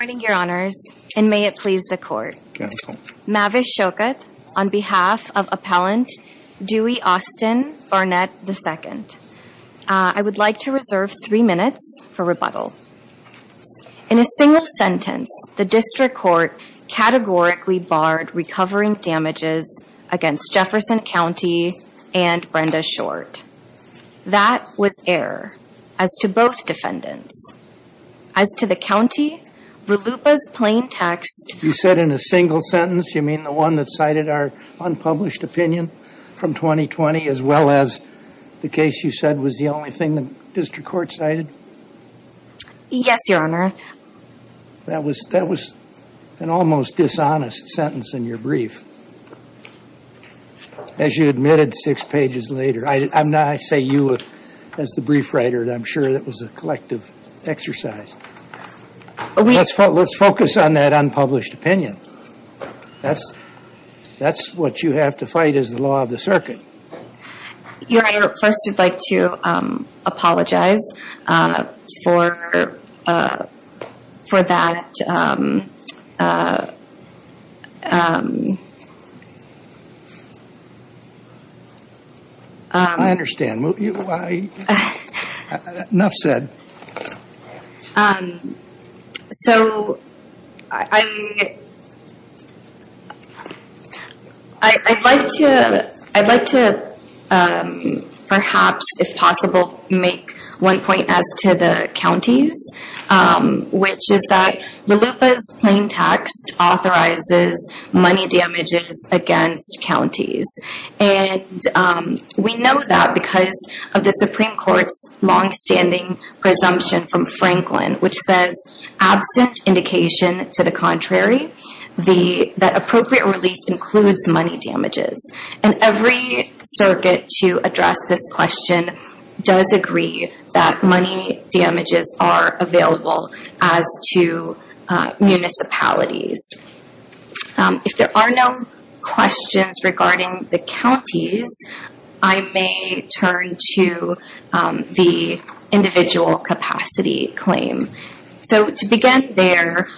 Good morning, Your Honors, and may it please the Court. Mavish Shokat on behalf of Appellant Dewey Austin Barnett, II. I would like to reserve three minutes for rebuttal. In a single sentence, the District Court categorically barred recovering damages against Jefferson County and Brenda Short. That was error as to both defendants. As to the county, RLUIPA's plain text... You said in a single sentence. You mean the one that cited our unpublished opinion from 2020, as well as the case you said was the only thing the District Court cited? Yes, Your Honor. That was an almost dishonest sentence in your brief, as you admitted six pages later. I say you as the brief writer, and I'm sure that was a collective exercise. Let's focus on that unpublished opinion. That's what you have to fight as the law of the circuit. Your Honor, first I'd like to apologize for that... I understand. Enough said. I'd like to perhaps, if possible, make one point as to the counties, which is that RLUIPA's plain text authorizes money damages against counties. We know that because of the Supreme Court's longstanding presumption from Franklin, which says, absent indication to the contrary, that appropriate relief includes money damages. Every circuit to address this question does agree that money damages are available as to municipalities. If there are no questions regarding the counties, I may turn to the individual capacity claim. To begin there,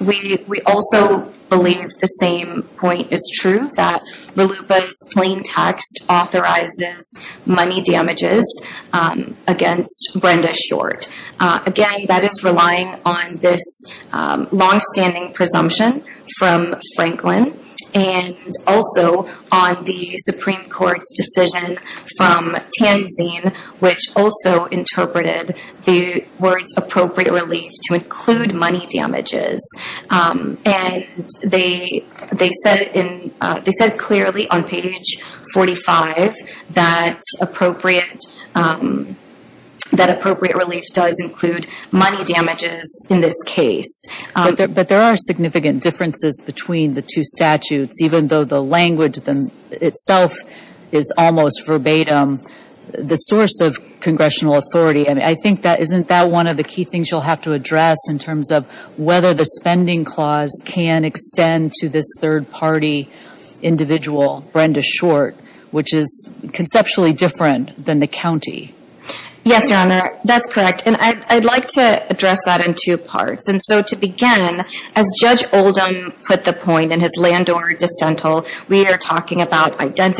we also believe the same point is true, that RLUIPA's plain text authorizes money damages against Brenda Short. Again, that is relying on this longstanding presumption from Franklin, and also on the Supreme Court's decision from Tanzine, which also interpreted the words appropriate relief to include money damages. They said clearly on page 45 that appropriate relief does include money damages in this case. But there are significant differences between the two statutes, even though the language itself is almost verbatim the source of congressional authority. Isn't that one of the key things you'll have to address in terms of whether the spending clause can extend to this third-party individual, Brenda Short, which is conceptually different than the county? Yes, Your Honor. That's correct. I'd like to address that in two parts. To begin, as Judge Oldham put the point in his Landor Dissental, we are talking about And no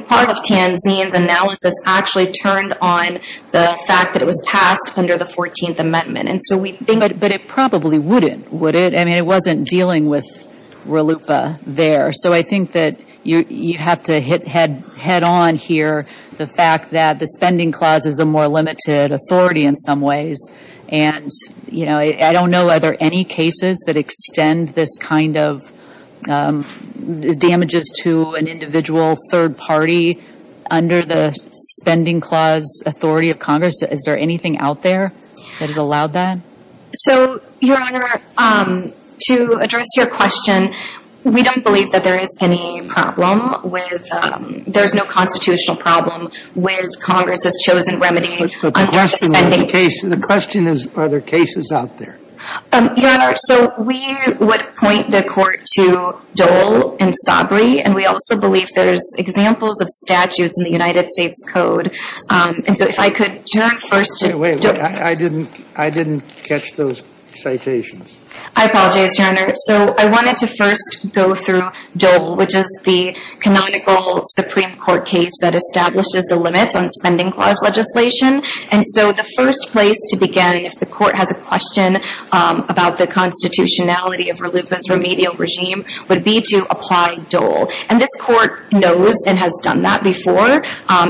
part of Tanzine's analysis actually turned on the fact that it was passed under the 14th Amendment. But it probably wouldn't, would it? I mean, it wasn't dealing with RLUIPA there. So I think that you have to hit head-on here the fact that the spending clause is a more limited authority in some ways. And I don't know, are there any cases that extend this kind of damages to an individual third-party under the spending clause authority of Congress? Is there anything out there that has allowed that? So, Your Honor, to address your question, we don't believe that there is any problem with, there's no constitutional problem with Congress's chosen remedy. But the question is, are there cases out there? Your Honor, so we would point the Court to Dole and Sabri. And we also believe there's examples of statutes in the United States Code. And so if I could turn first to Dole. Wait, wait. I didn't catch those citations. I apologize, Your Honor. So I wanted to first go through Dole, which is the canonical Supreme Court case that establishes the limits on spending clause legislation. And so the first place to begin, if the Court has a question about the constitutionality of RLUIPA's remedial regime, would be to apply Dole. And this Court knows and has done that before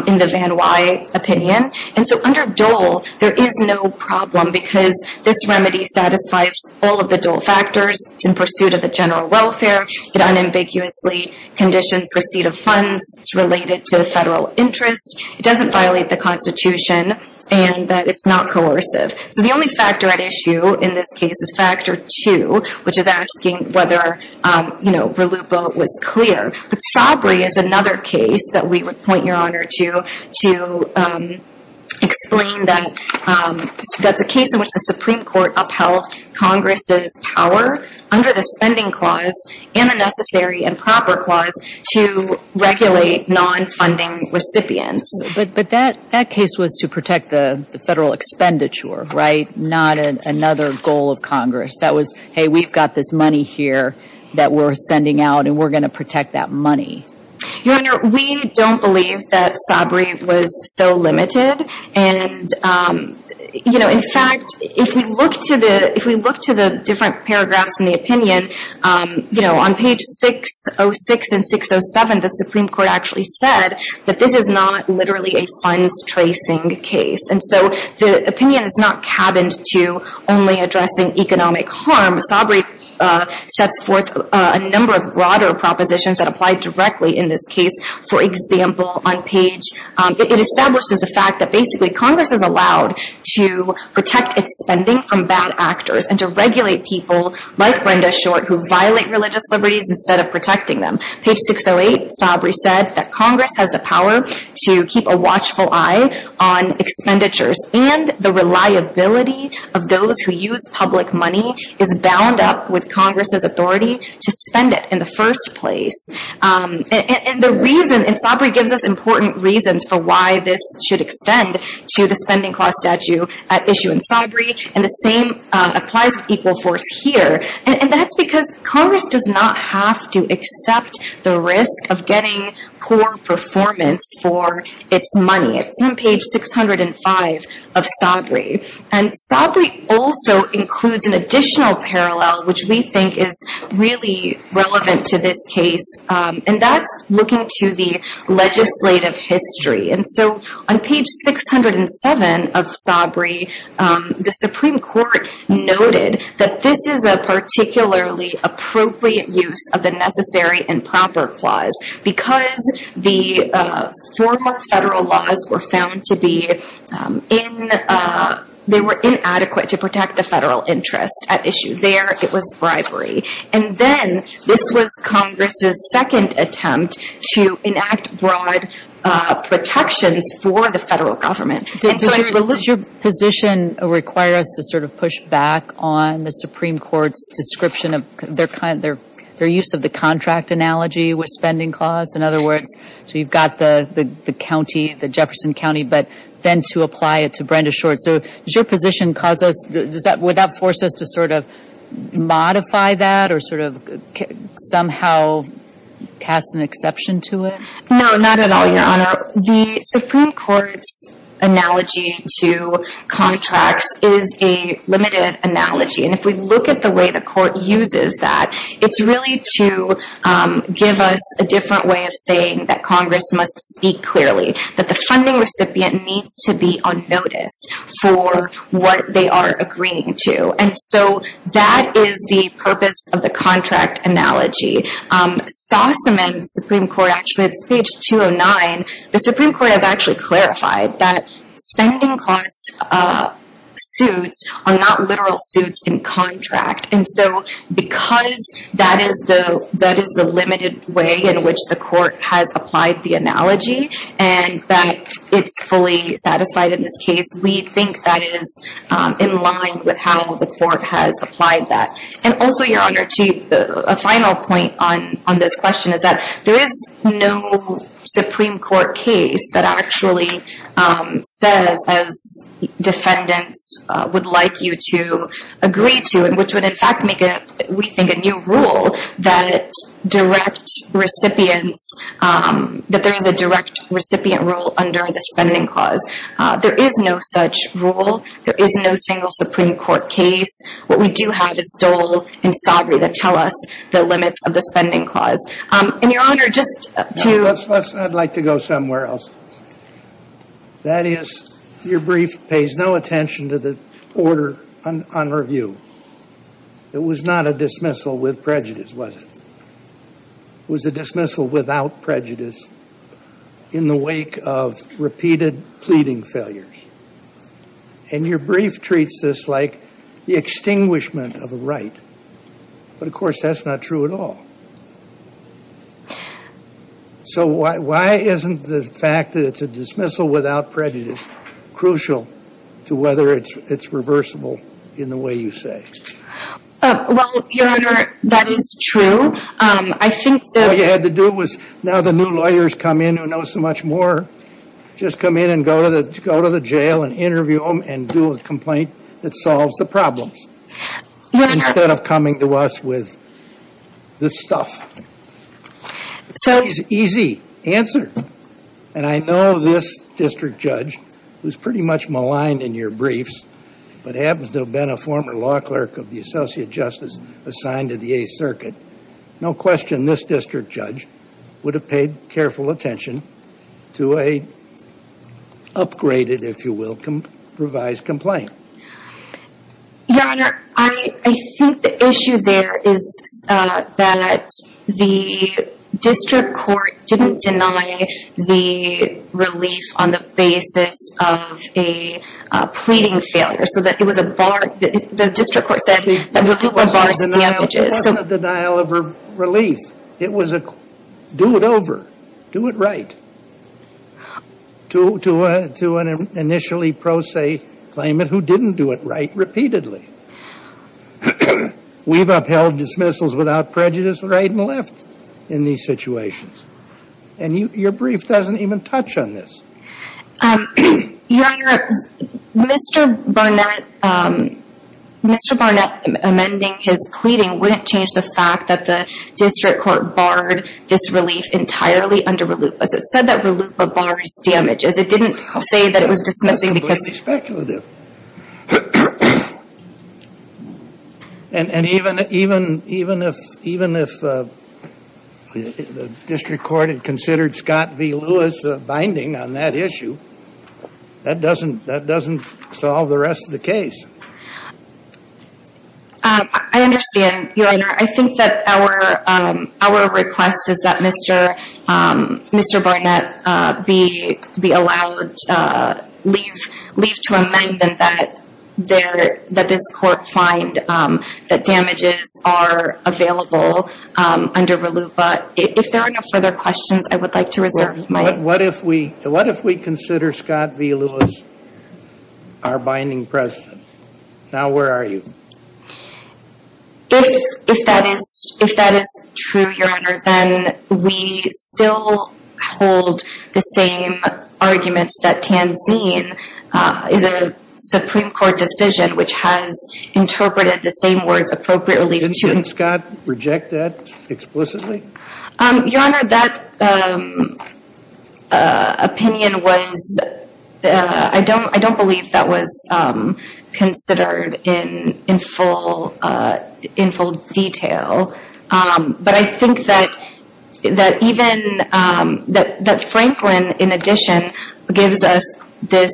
in the Van Wye opinion. And so under Dole, there is no problem because this remedy satisfies all of the Dole factors. It's in pursuit of a general welfare. It unambiguously conditions receipt of funds. It's related to federal interest. It doesn't violate the constitution. And that it's not coercive. So the only factor at issue in this case is factor two, which is asking whether, you know, RLUIPA was clear. But Sabri is another case that we would point, Your Honor, to explain that that's a case in which the Supreme Court upheld Congress's power under the spending clause and the necessary and proper clause to regulate non-funding recipients. But that case was to protect the federal expenditure, right, not another goal of Congress. That was, hey, we've got this money here that we're sending out, and we're going to protect that money. Your Honor, we don't believe that Sabri was so limited. And, you know, in fact, if we look to the different paragraphs in the opinion, you know, on page 606 and 607, the Supreme Court actually said that this is not literally a funds-tracing case. And so the opinion is not cabined to only addressing economic harm. Sabri sets forth a number of broader propositions that apply directly in this case. For example, on page, it establishes the fact that basically Congress is allowed to protect its spending from bad actors and to regulate people like Brenda Short who violate religious liberties instead of protecting them. Page 608, Sabri said that Congress has the power to keep a watchful eye on expenditures, and the reliability of those who use public money is bound up with Congress's authority to spend it in the first place. And the reason, and Sabri gives us important reasons for why this should extend to the spending clause statute at issue in Sabri, and the same applies to Equal Force here. And that's because Congress does not have to accept the risk of getting poor performance for its money. It's on page 605 of Sabri. And Sabri also includes an additional parallel which we think is really relevant to this case, and that's looking to the legislative history. And so on page 607 of Sabri, the Supreme Court noted that this is a particularly appropriate use of the Necessary and Proper Clause because the former federal laws were found to be inadequate to protect the federal interest at issue. There, it was bribery. And then this was Congress's second attempt to enact broad protections for the federal government. And so I believe- Does your position require us to sort of push back on the Supreme Court's description of their use of the contract analogy with spending clause? In other words, so you've got the county, the Jefferson County, but then to apply it to Brenda Short. So does your position cause us-would that force us to sort of modify that or sort of somehow cast an exception to it? No, not at all, Your Honor. The Supreme Court's analogy to contracts is a limited analogy. And if we look at the way the Court uses that, it's really to give us a different way of saying that Congress must speak clearly, that the funding recipient needs to be on notice for what they are agreeing to. And so that is the purpose of the contract analogy. Sossaman's Supreme Court actually-it's page 209. The Supreme Court has actually clarified that spending clause suits are not literal suits in contract. And so because that is the limited way in which the Court has applied the analogy and that it's fully satisfied in this case, we think that is in line with how the Court has applied that. And also, Your Honor, a final point on this question is that there is no Supreme Court case that actually says, as defendants would like you to agree to, and which would in fact make, we think, a new rule that direct recipients-that there is a direct recipient rule under the spending clause. There is no such rule. There is no single Supreme Court case. What we do have is Dole and Saugery that tell us the limits of the spending clause. And, Your Honor, just to- I'd like to go somewhere else. That is, your brief pays no attention to the order on review. It was not a dismissal with prejudice, was it? It was a dismissal without prejudice in the wake of repeated pleading failures. And your brief treats this like the extinguishment of a right. But, of course, that's not true at all. So why isn't the fact that it's a dismissal without prejudice crucial to whether it's reversible in the way you say? Well, Your Honor, that is true. I think that- All you had to do was now the new lawyers come in who know so much more just come in and go to the jail and interview them and do a complaint that solves the problems. Your Honor- So- Easy. Answer. And I know this district judge, who's pretty much maligned in your briefs, but happens to have been a former law clerk of the Associate Justice assigned to the Eighth Circuit. No question this district judge would have paid careful attention to an upgraded, if you will, revised complaint. Your Honor, I think the issue there is that the district court didn't deny the relief on the basis of a pleading failure. So that it was a bar- the district court said- It wasn't a denial of relief. It was a do it over, do it right. To an initially pro se claimant who didn't do it right repeatedly. We've upheld dismissals without prejudice right and left in these situations. And your brief doesn't even touch on this. Your Honor, Mr. Barnett- Mr. Barnett amending his pleading wouldn't change the fact that the district court barred this relief entirely under RLUIPA. So it said that RLUIPA bars damages. It didn't say that it was dismissing because- That's completely speculative. And even if the district court had considered Scott v. Lewis binding on that issue, that doesn't solve the rest of the case. I understand, your Honor. I think that our request is that Mr. Barnett be allowed leave to amend and that this court find that damages are available under RLUIPA. If there are no further questions, I would like to reserve my- What if we consider Scott v. Lewis our binding precedent? Now, where are you? If that is true, your Honor, then we still hold the same arguments that Tanzine is a Supreme Court decision which has interpreted the same words appropriately to- Didn't Scott reject that explicitly? Your Honor, that opinion was- I don't believe that was considered in full detail. But I think that Franklin, in addition, gives us this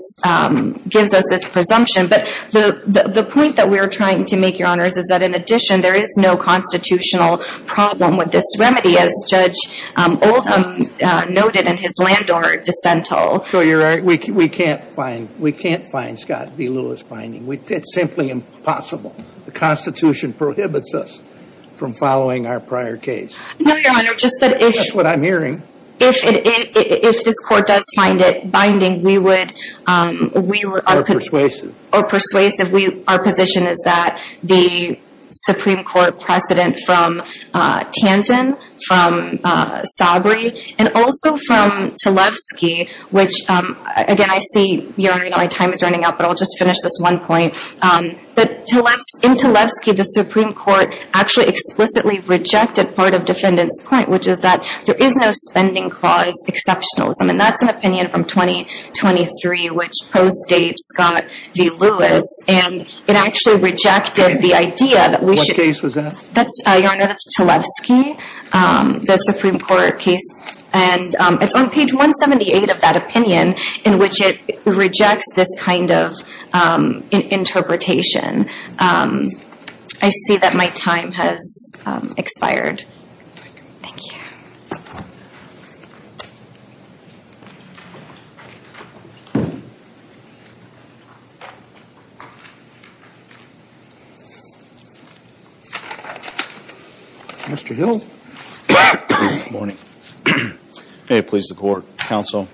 presumption. But the point that we're trying to make, your Honor, is that in addition, there is no constitutional problem with this remedy, as Judge Oldham noted in his Landau dissent. So you're right. We can't find Scott v. Lewis binding. It's simply impossible. The Constitution prohibits us from following our prior case. No, your Honor. Just that if- That's what I'm hearing. If this court does find it binding, we would- Or persuasive. Or persuasive. Our position is that the Supreme Court precedent from Tanzine, from Sabri, and also from Talevsky, which, again, I see, your Honor, my time is running out, but I'll just finish this one point. In Talevsky, the Supreme Court actually explicitly rejected part of defendant's point, which is that there is no spending clause exceptionalism. And that's an opinion from 2023, which postdates Scott v. Lewis. And it actually rejected the idea that we should- What case was that? Your Honor, that's Talevsky, the Supreme Court case. And it's on page 178 of that opinion in which it rejects this kind of interpretation. I see that my time has expired. Thank you. Mr. Hill. Good morning. May it please the Court, Counsel.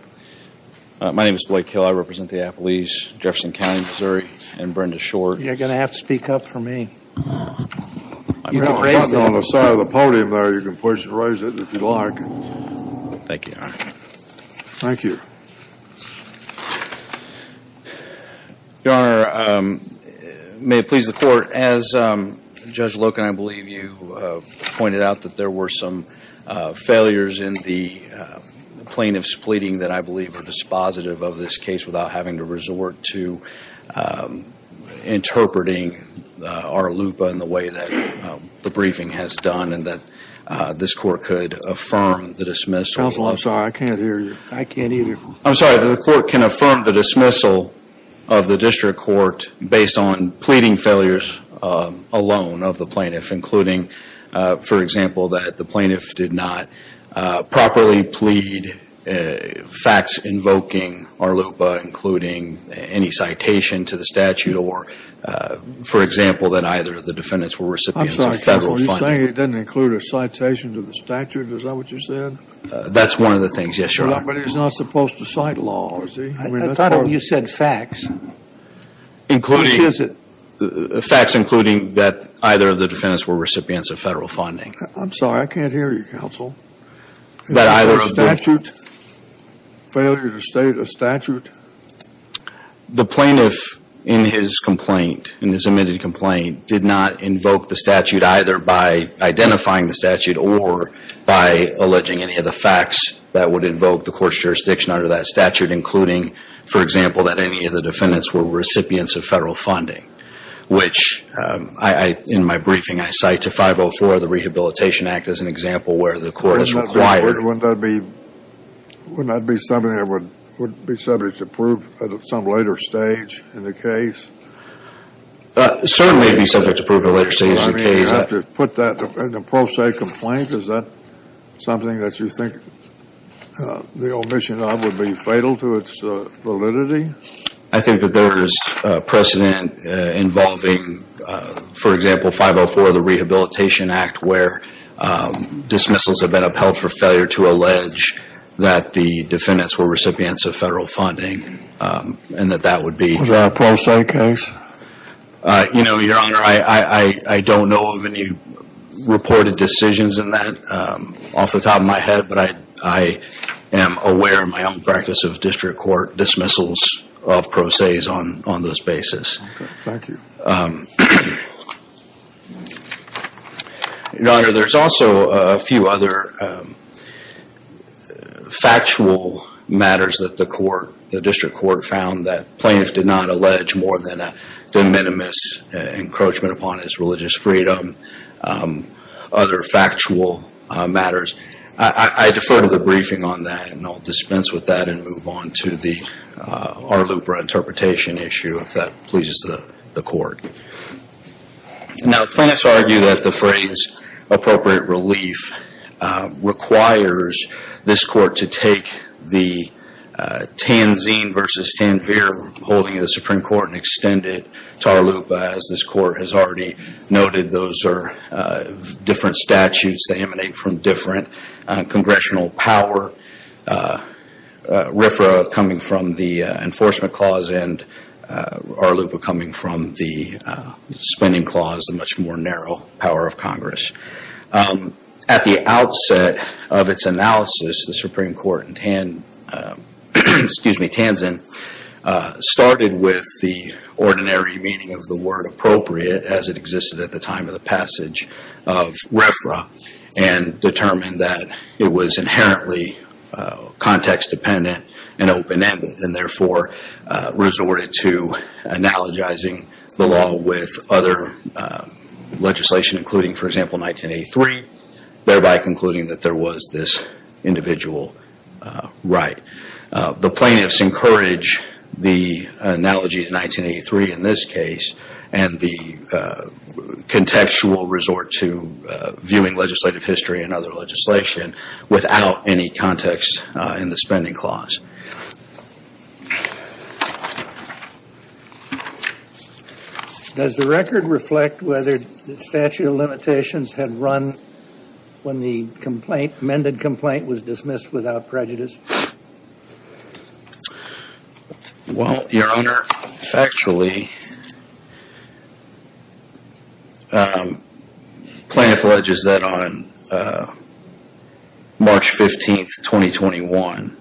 My name is Blake Hill. I represent the Appalachians, Jefferson County, Missouri, and Brenda Shore. You're going to have to speak up for me. You can raise it on the side of the podium there. You can push and raise it if you'd like. Thank you, Your Honor. Thank you. Your Honor, may it please the Court. As Judge Loken, I believe you pointed out that there were some failures in the plaintiff's pleading that I believe are dispositive of this case without having to resort to interpreting our LUPA in the way that the briefing has done and that this Court could affirm the dismissal. Counsel, I'm sorry. I can't hear you. I can't hear you. I'm sorry. The Court can affirm the dismissal of the District Court based on pleading failures alone of the plaintiff, including, for example, that the plaintiff did not properly plead facts invoking our LUPA, including any citation to the statute, or, for example, that either of the defendants were recipients of federal funding. I'm sorry, Counsel. Are you saying it didn't include a citation to the statute? Is that what you said? That's one of the things, yes, Your Honor. He's not supposed to cite laws. I thought you said facts. Facts including that either of the defendants were recipients of federal funding. I'm sorry. I can't hear you, Counsel. That either statute, failure to state a statute. The plaintiff, in his complaint, in his admitted complaint, did not invoke the statute either by identifying the statute or by alleging any of the facts that would invoke the Court's jurisdiction under that statute, including, for example, that any of the defendants were recipients of federal funding, which in my briefing I cite to 504 of the Rehabilitation Act as an example where the Court has required. Wouldn't that be something that would be subject to prove at some later stage in the case? Certainly it would be subject to prove at a later stage in the case. You have to put that in a pro se complaint. Is that something that you think the omission of would be fatal to its validity? I think that there is precedent involving, for example, 504 of the Rehabilitation Act where dismissals have been upheld for failure to allege that the defendants were recipients of federal funding and that that would be- Was that a pro se case? You know, Your Honor, I don't know of any reported decisions in that off the top of my head, but I am aware in my own practice of district court dismissals of pro ses on this basis. Thank you. Your Honor, there's also a few other factual matters that the District Court found that plaintiffs did not allege more than a de minimis encroachment upon his religious freedom, other factual matters. I defer to the briefing on that, and I'll dispense with that and move on to the Arlupra interpretation issue if that pleases the Court. Now, plaintiffs argue that the phrase appropriate relief requires this Court to take the Tanzine versus Tanvir holding of the Supreme Court and extend it to Arlupra. As this Court has already noted, those are different statutes. They emanate from different congressional power, RFRA coming from the Enforcement Clause and Arlupra coming from the Spending Clause, a much more narrow power of Congress. At the outset of its analysis, the Supreme Court in Tanzan started with the ordinary meaning of the word appropriate as it existed at the time of the passage of RFRA and determined that it was inherently context dependent and open-ended and therefore resorted to analogizing the law with other legislation, including, for example, 1983, thereby concluding that there was this individual right. The plaintiffs encourage the analogy of 1983 in this case and the contextual resort to viewing legislative history and other legislation without any context in the Spending Clause. Does the record reflect whether the statute of limitations had run when the amended complaint was dismissed without prejudice? Well, Your Honor, factually, plaintiff alleges that on March 15th, 2021,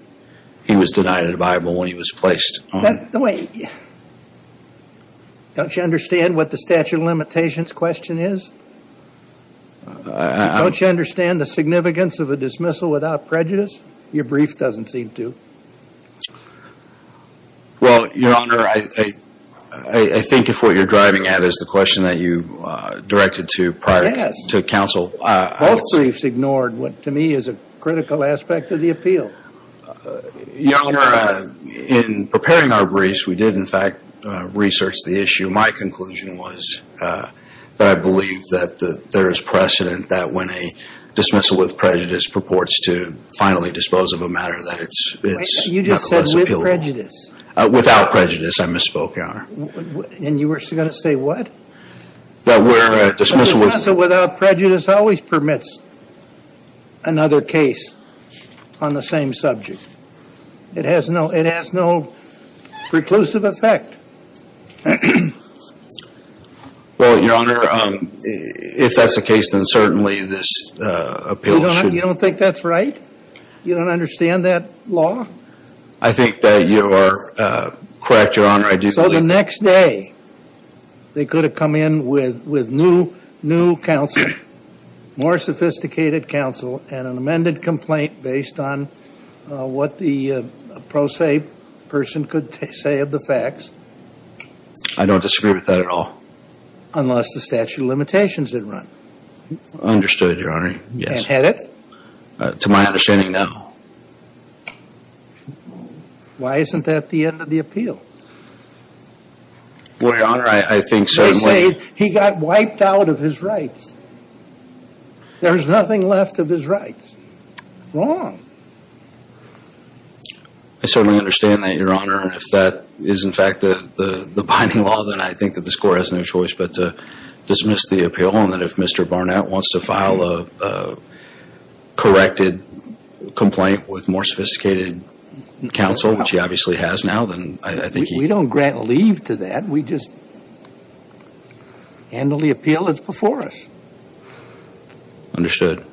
he was denied a Bible when he was placed on. Don't you understand what the statute of limitations question is? Don't you understand the significance of a dismissal without prejudice? Your brief doesn't seem to. Well, Your Honor, I think if what you're driving at is the question that you directed to prior to counsel. Both briefs ignored what, to me, is a critical aspect of the appeal. Your Honor, in preparing our briefs, we did, in fact, research the issue. My conclusion was that I believe that there is precedent that when a dismissal with prejudice purports to finally dispose of a matter that it's not less appealable. Without prejudice, I misspoke, Your Honor. And you were going to say what? A dismissal without prejudice always permits another case on the same subject. It has no preclusive effect. Well, Your Honor, if that's the case, then certainly this appeal should. You don't think that's right? You don't understand that law? I think that you are correct, Your Honor. So the next day, they could have come in with new counsel, more sophisticated counsel, and an amended complaint based on what the pro se person could say of the facts. I don't disagree with that at all. Unless the statute of limitations had run. Understood, Your Honor. And had it? To my understanding, no. Why isn't that the end of the appeal? Well, Your Honor, I think certainly. They say he got wiped out of his rights. There's nothing left of his rights. Wrong. I certainly understand that, Your Honor. And if that is in fact the binding law, then I think that the score has no choice but to dismiss the appeal. Your Honor, if Mr. Barnett wants to file a corrected complaint with more sophisticated counsel, which he obviously has now, then I think he We don't grant leave to that. We just handle the appeal that's before us. Understood.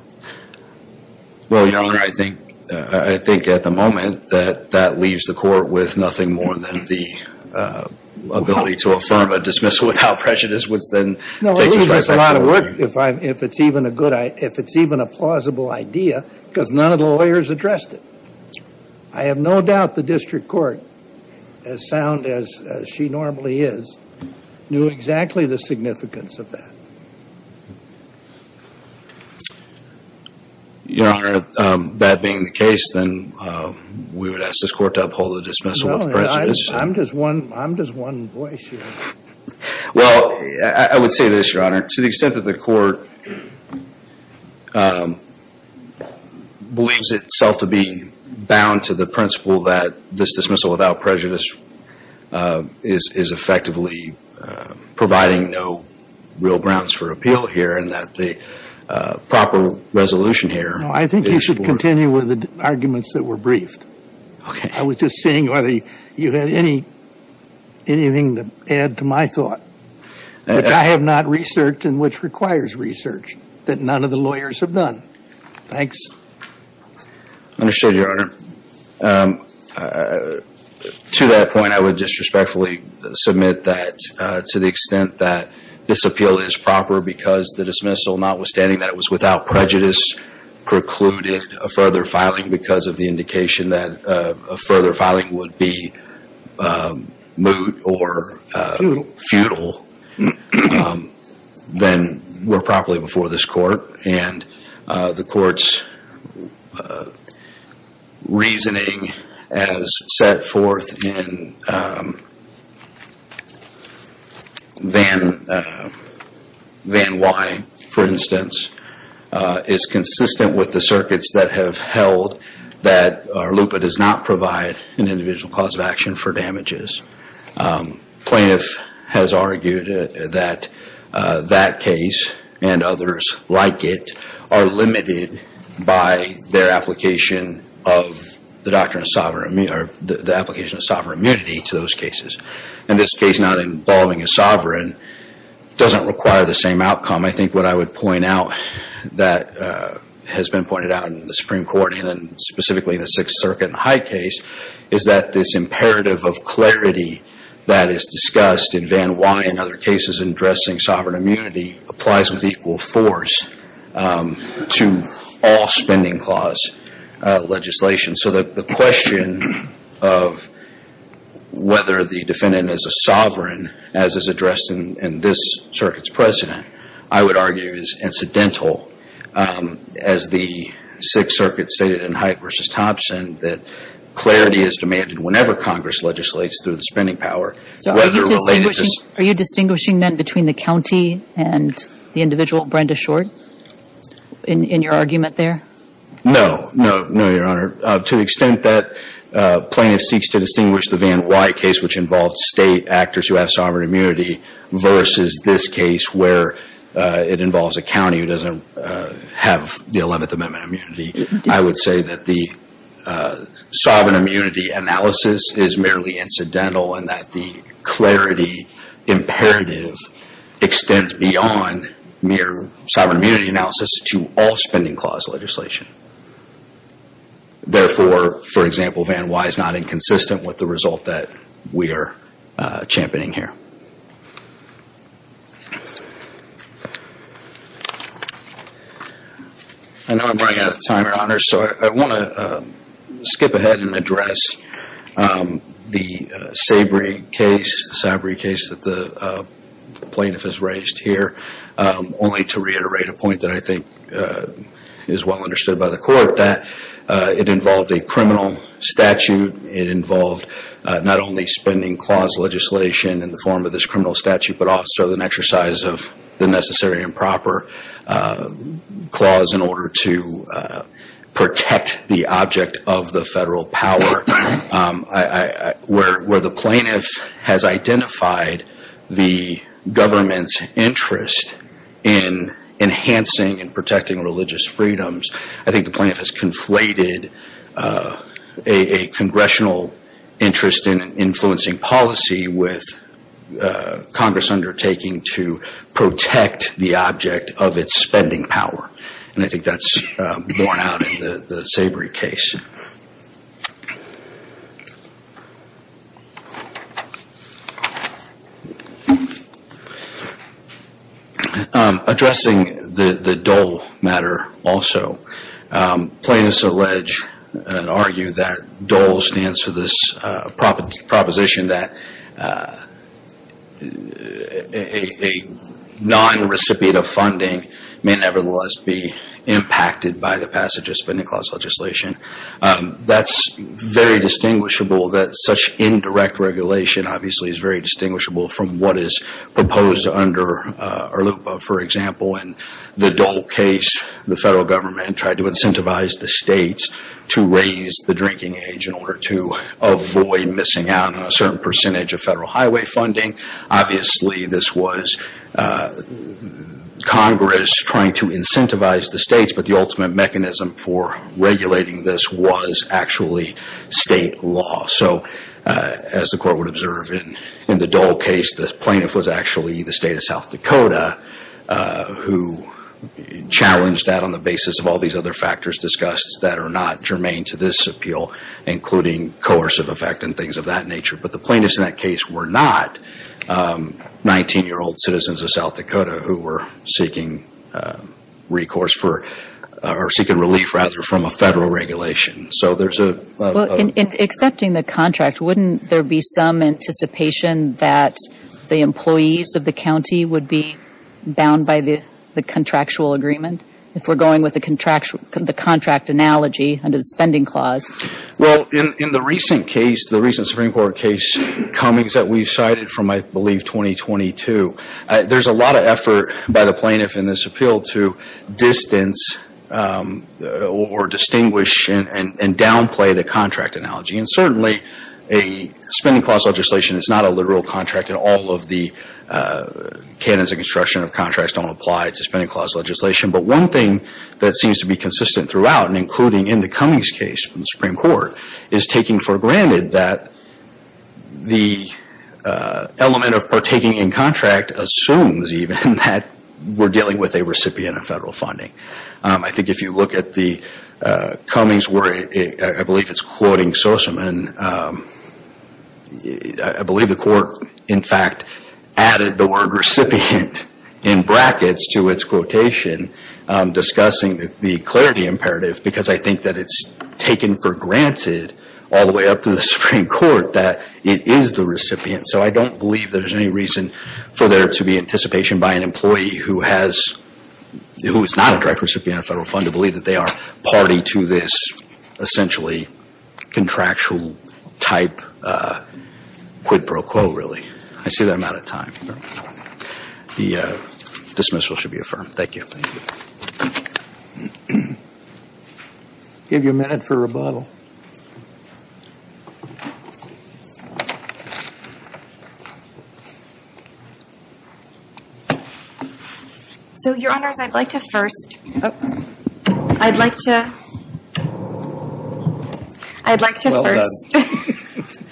Well, Your Honor, I think at the moment that that leaves the court with nothing more than the ability to affirm a dismissal without prejudice, which then takes a trifecta. No, it leaves us a lot of work if it's even a plausible idea, because none of the lawyers addressed it. I have no doubt the district court, as sound as she normally is, knew exactly the significance of that. Your Honor, that being the case, then we would ask this court to uphold the dismissal without prejudice. I'm just one voice here. Well, I would say this, Your Honor. To the extent that the court believes itself to be bound to the principle that this dismissal without prejudice is effectively providing no real grounds for appeal here and that the proper resolution here is for No, I think you should continue with the arguments that were briefed. Okay. I was just seeing whether you had anything to add to my thought, which I have not researched and which requires research that none of the lawyers have done. Thanks. Understood, Your Honor. To that point, I would just respectfully submit that to the extent that this appeal is proper because the dismissal, notwithstanding that it was without prejudice, precluded a further filing because of the indication that a further filing would be moot or futile, then we're properly before this court. And the court's reasoning as set forth in Van Wyne, for instance, is consistent with the circuits that have held that LUPA does not provide an individual cause of action for damages. Plaintiff has argued that that case and others like it are limited by their application of the doctrine of sovereign immunity, or the application of sovereign immunity to those cases. And this case not involving a sovereign doesn't require the same outcome. I think what I would point out that has been pointed out in the Supreme Court, and specifically in the Sixth Circuit and Hyde case, is that this imperative of clarity that is discussed in Van Wyne and other cases addressing sovereign immunity applies with equal force to all spending clause legislation. So the question of whether the defendant is a sovereign, as is addressed in this circuit's precedent, I would argue is incidental. As the Sixth Circuit stated in Hyde v. Thompson, that clarity is demanded whenever Congress legislates through the spending power. So are you distinguishing then between the county and the individual, Brenda Short, in your argument there? No, no, no, Your Honor. To the extent that plaintiff seeks to distinguish the Van Wyne case, which involves state actors who have sovereign immunity, versus this case where it involves a county who doesn't have the Eleventh Amendment immunity, I would say that the sovereign immunity analysis is merely incidental, and that the clarity imperative extends beyond mere sovereign immunity analysis to all spending clause legislation. Therefore, for example, Van Wyne is not inconsistent with the result that we are championing here. I know I'm running out of time, Your Honor, so I want to skip ahead and address the Sabry case that the plaintiff has raised here, only to reiterate a point that I think is well understood by the Court, that it involved a criminal statute. It involved not only spending clause legislation in the form of this criminal statute, but also an exercise of the necessary and proper clause in order to protect the object of the federal power. Where the plaintiff has identified the government's interest in enhancing and protecting religious freedoms, I think the plaintiff has conflated a congressional interest in influencing policy with Congress undertaking to protect the object of its spending power, and I think that's borne out in the Sabry case. Addressing the Dole matter also, plaintiffs allege and argue that Dole stands for this proposition that a non-recipient of funding may nevertheless be impacted by the passage of spending clause legislation. That's very distinguishable that such indirect regulation, obviously, is very distinguishable from what is proposed under ARLUPA. For example, in the Dole case, the federal government tried to incentivize the states to raise the drinking age in order to avoid missing out on a certain percentage of federal highway funding. Obviously, this was Congress trying to incentivize the states, but the ultimate mechanism for regulating this was actually state law. So, as the Court would observe in the Dole case, the plaintiff was actually the state of South Dakota, who challenged that on the basis of all these other factors discussed that are not germane to this appeal, including coercive effect and things of that nature. But the plaintiffs in that case were not 19-year-old citizens of South Dakota who were seeking relief from a federal regulation. Well, in accepting the contract, wouldn't there be some anticipation that the employees of the county would be bound by the contractual agreement, if we're going with the contract analogy under the spending clause? Well, in the recent Supreme Court case comings that we've cited from, I believe, 2022, there's a lot of effort by the plaintiff in this appeal to distance or distinguish and downplay the contract analogy. And certainly, a spending clause legislation is not a literal contract, and all of the canons of construction of contracts don't apply to spending clause legislation. But one thing that seems to be consistent throughout, and including in the comings case from the Supreme Court, is taking for granted that the element of partaking in contract assumes, even, that we're dealing with a recipient of federal funding. I think if you look at the comings where I believe it's quoting Sosaman, I believe the court, in fact, added the word recipient in brackets to its quotation, discussing the clarity imperative, because I think that it's taken for granted, all the way up to the Supreme Court, that it is the recipient. So I don't believe there's any reason for there to be anticipation by an employee who is not a direct recipient of federal funding to believe that they are party to this, essentially, contractual type quid pro quo, really. I see that I'm out of time. The dismissal should be affirmed. Thank you. I'll give you a minute for rebuttal. So, Your Honors, I'd like to first. I'd like to first. I'd like to first.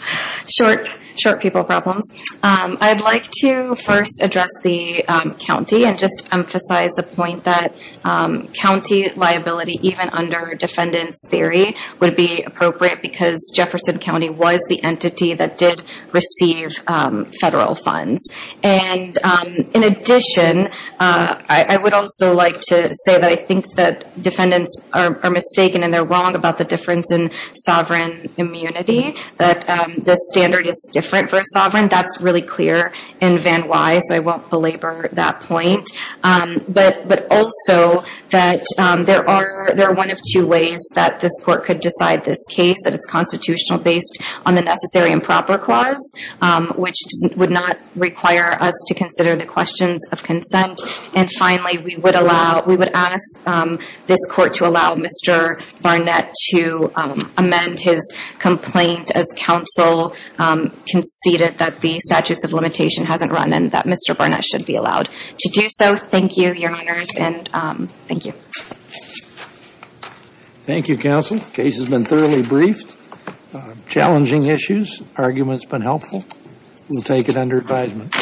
Short people problems. I'd like to first address the county and just emphasize the point that county liability, even under defendant's theory, would be appropriate because Jefferson County was the entity that did receive federal funds. And in addition, I would also like to say that I think that defendants are mistaken and they're wrong about the difference in sovereign immunity, that the standard is different for sovereign. That's really clear in Van Wye, so I won't belabor that point. But also that there are one of two ways that this court could decide this case, that it's constitutional based on the necessary and proper clause, which would not require us to consider the questions of consent. And finally, we would ask this court to allow Mr. Barnett to amend his complaint as counsel conceded that the statutes of limitation hasn't run and that Mr. Barnett should be allowed to do so. Thank you, Your Honors, and thank you. Thank you, counsel. Case has been thoroughly briefed. Challenging issues. Argument's been helpful. We'll take it under advisement.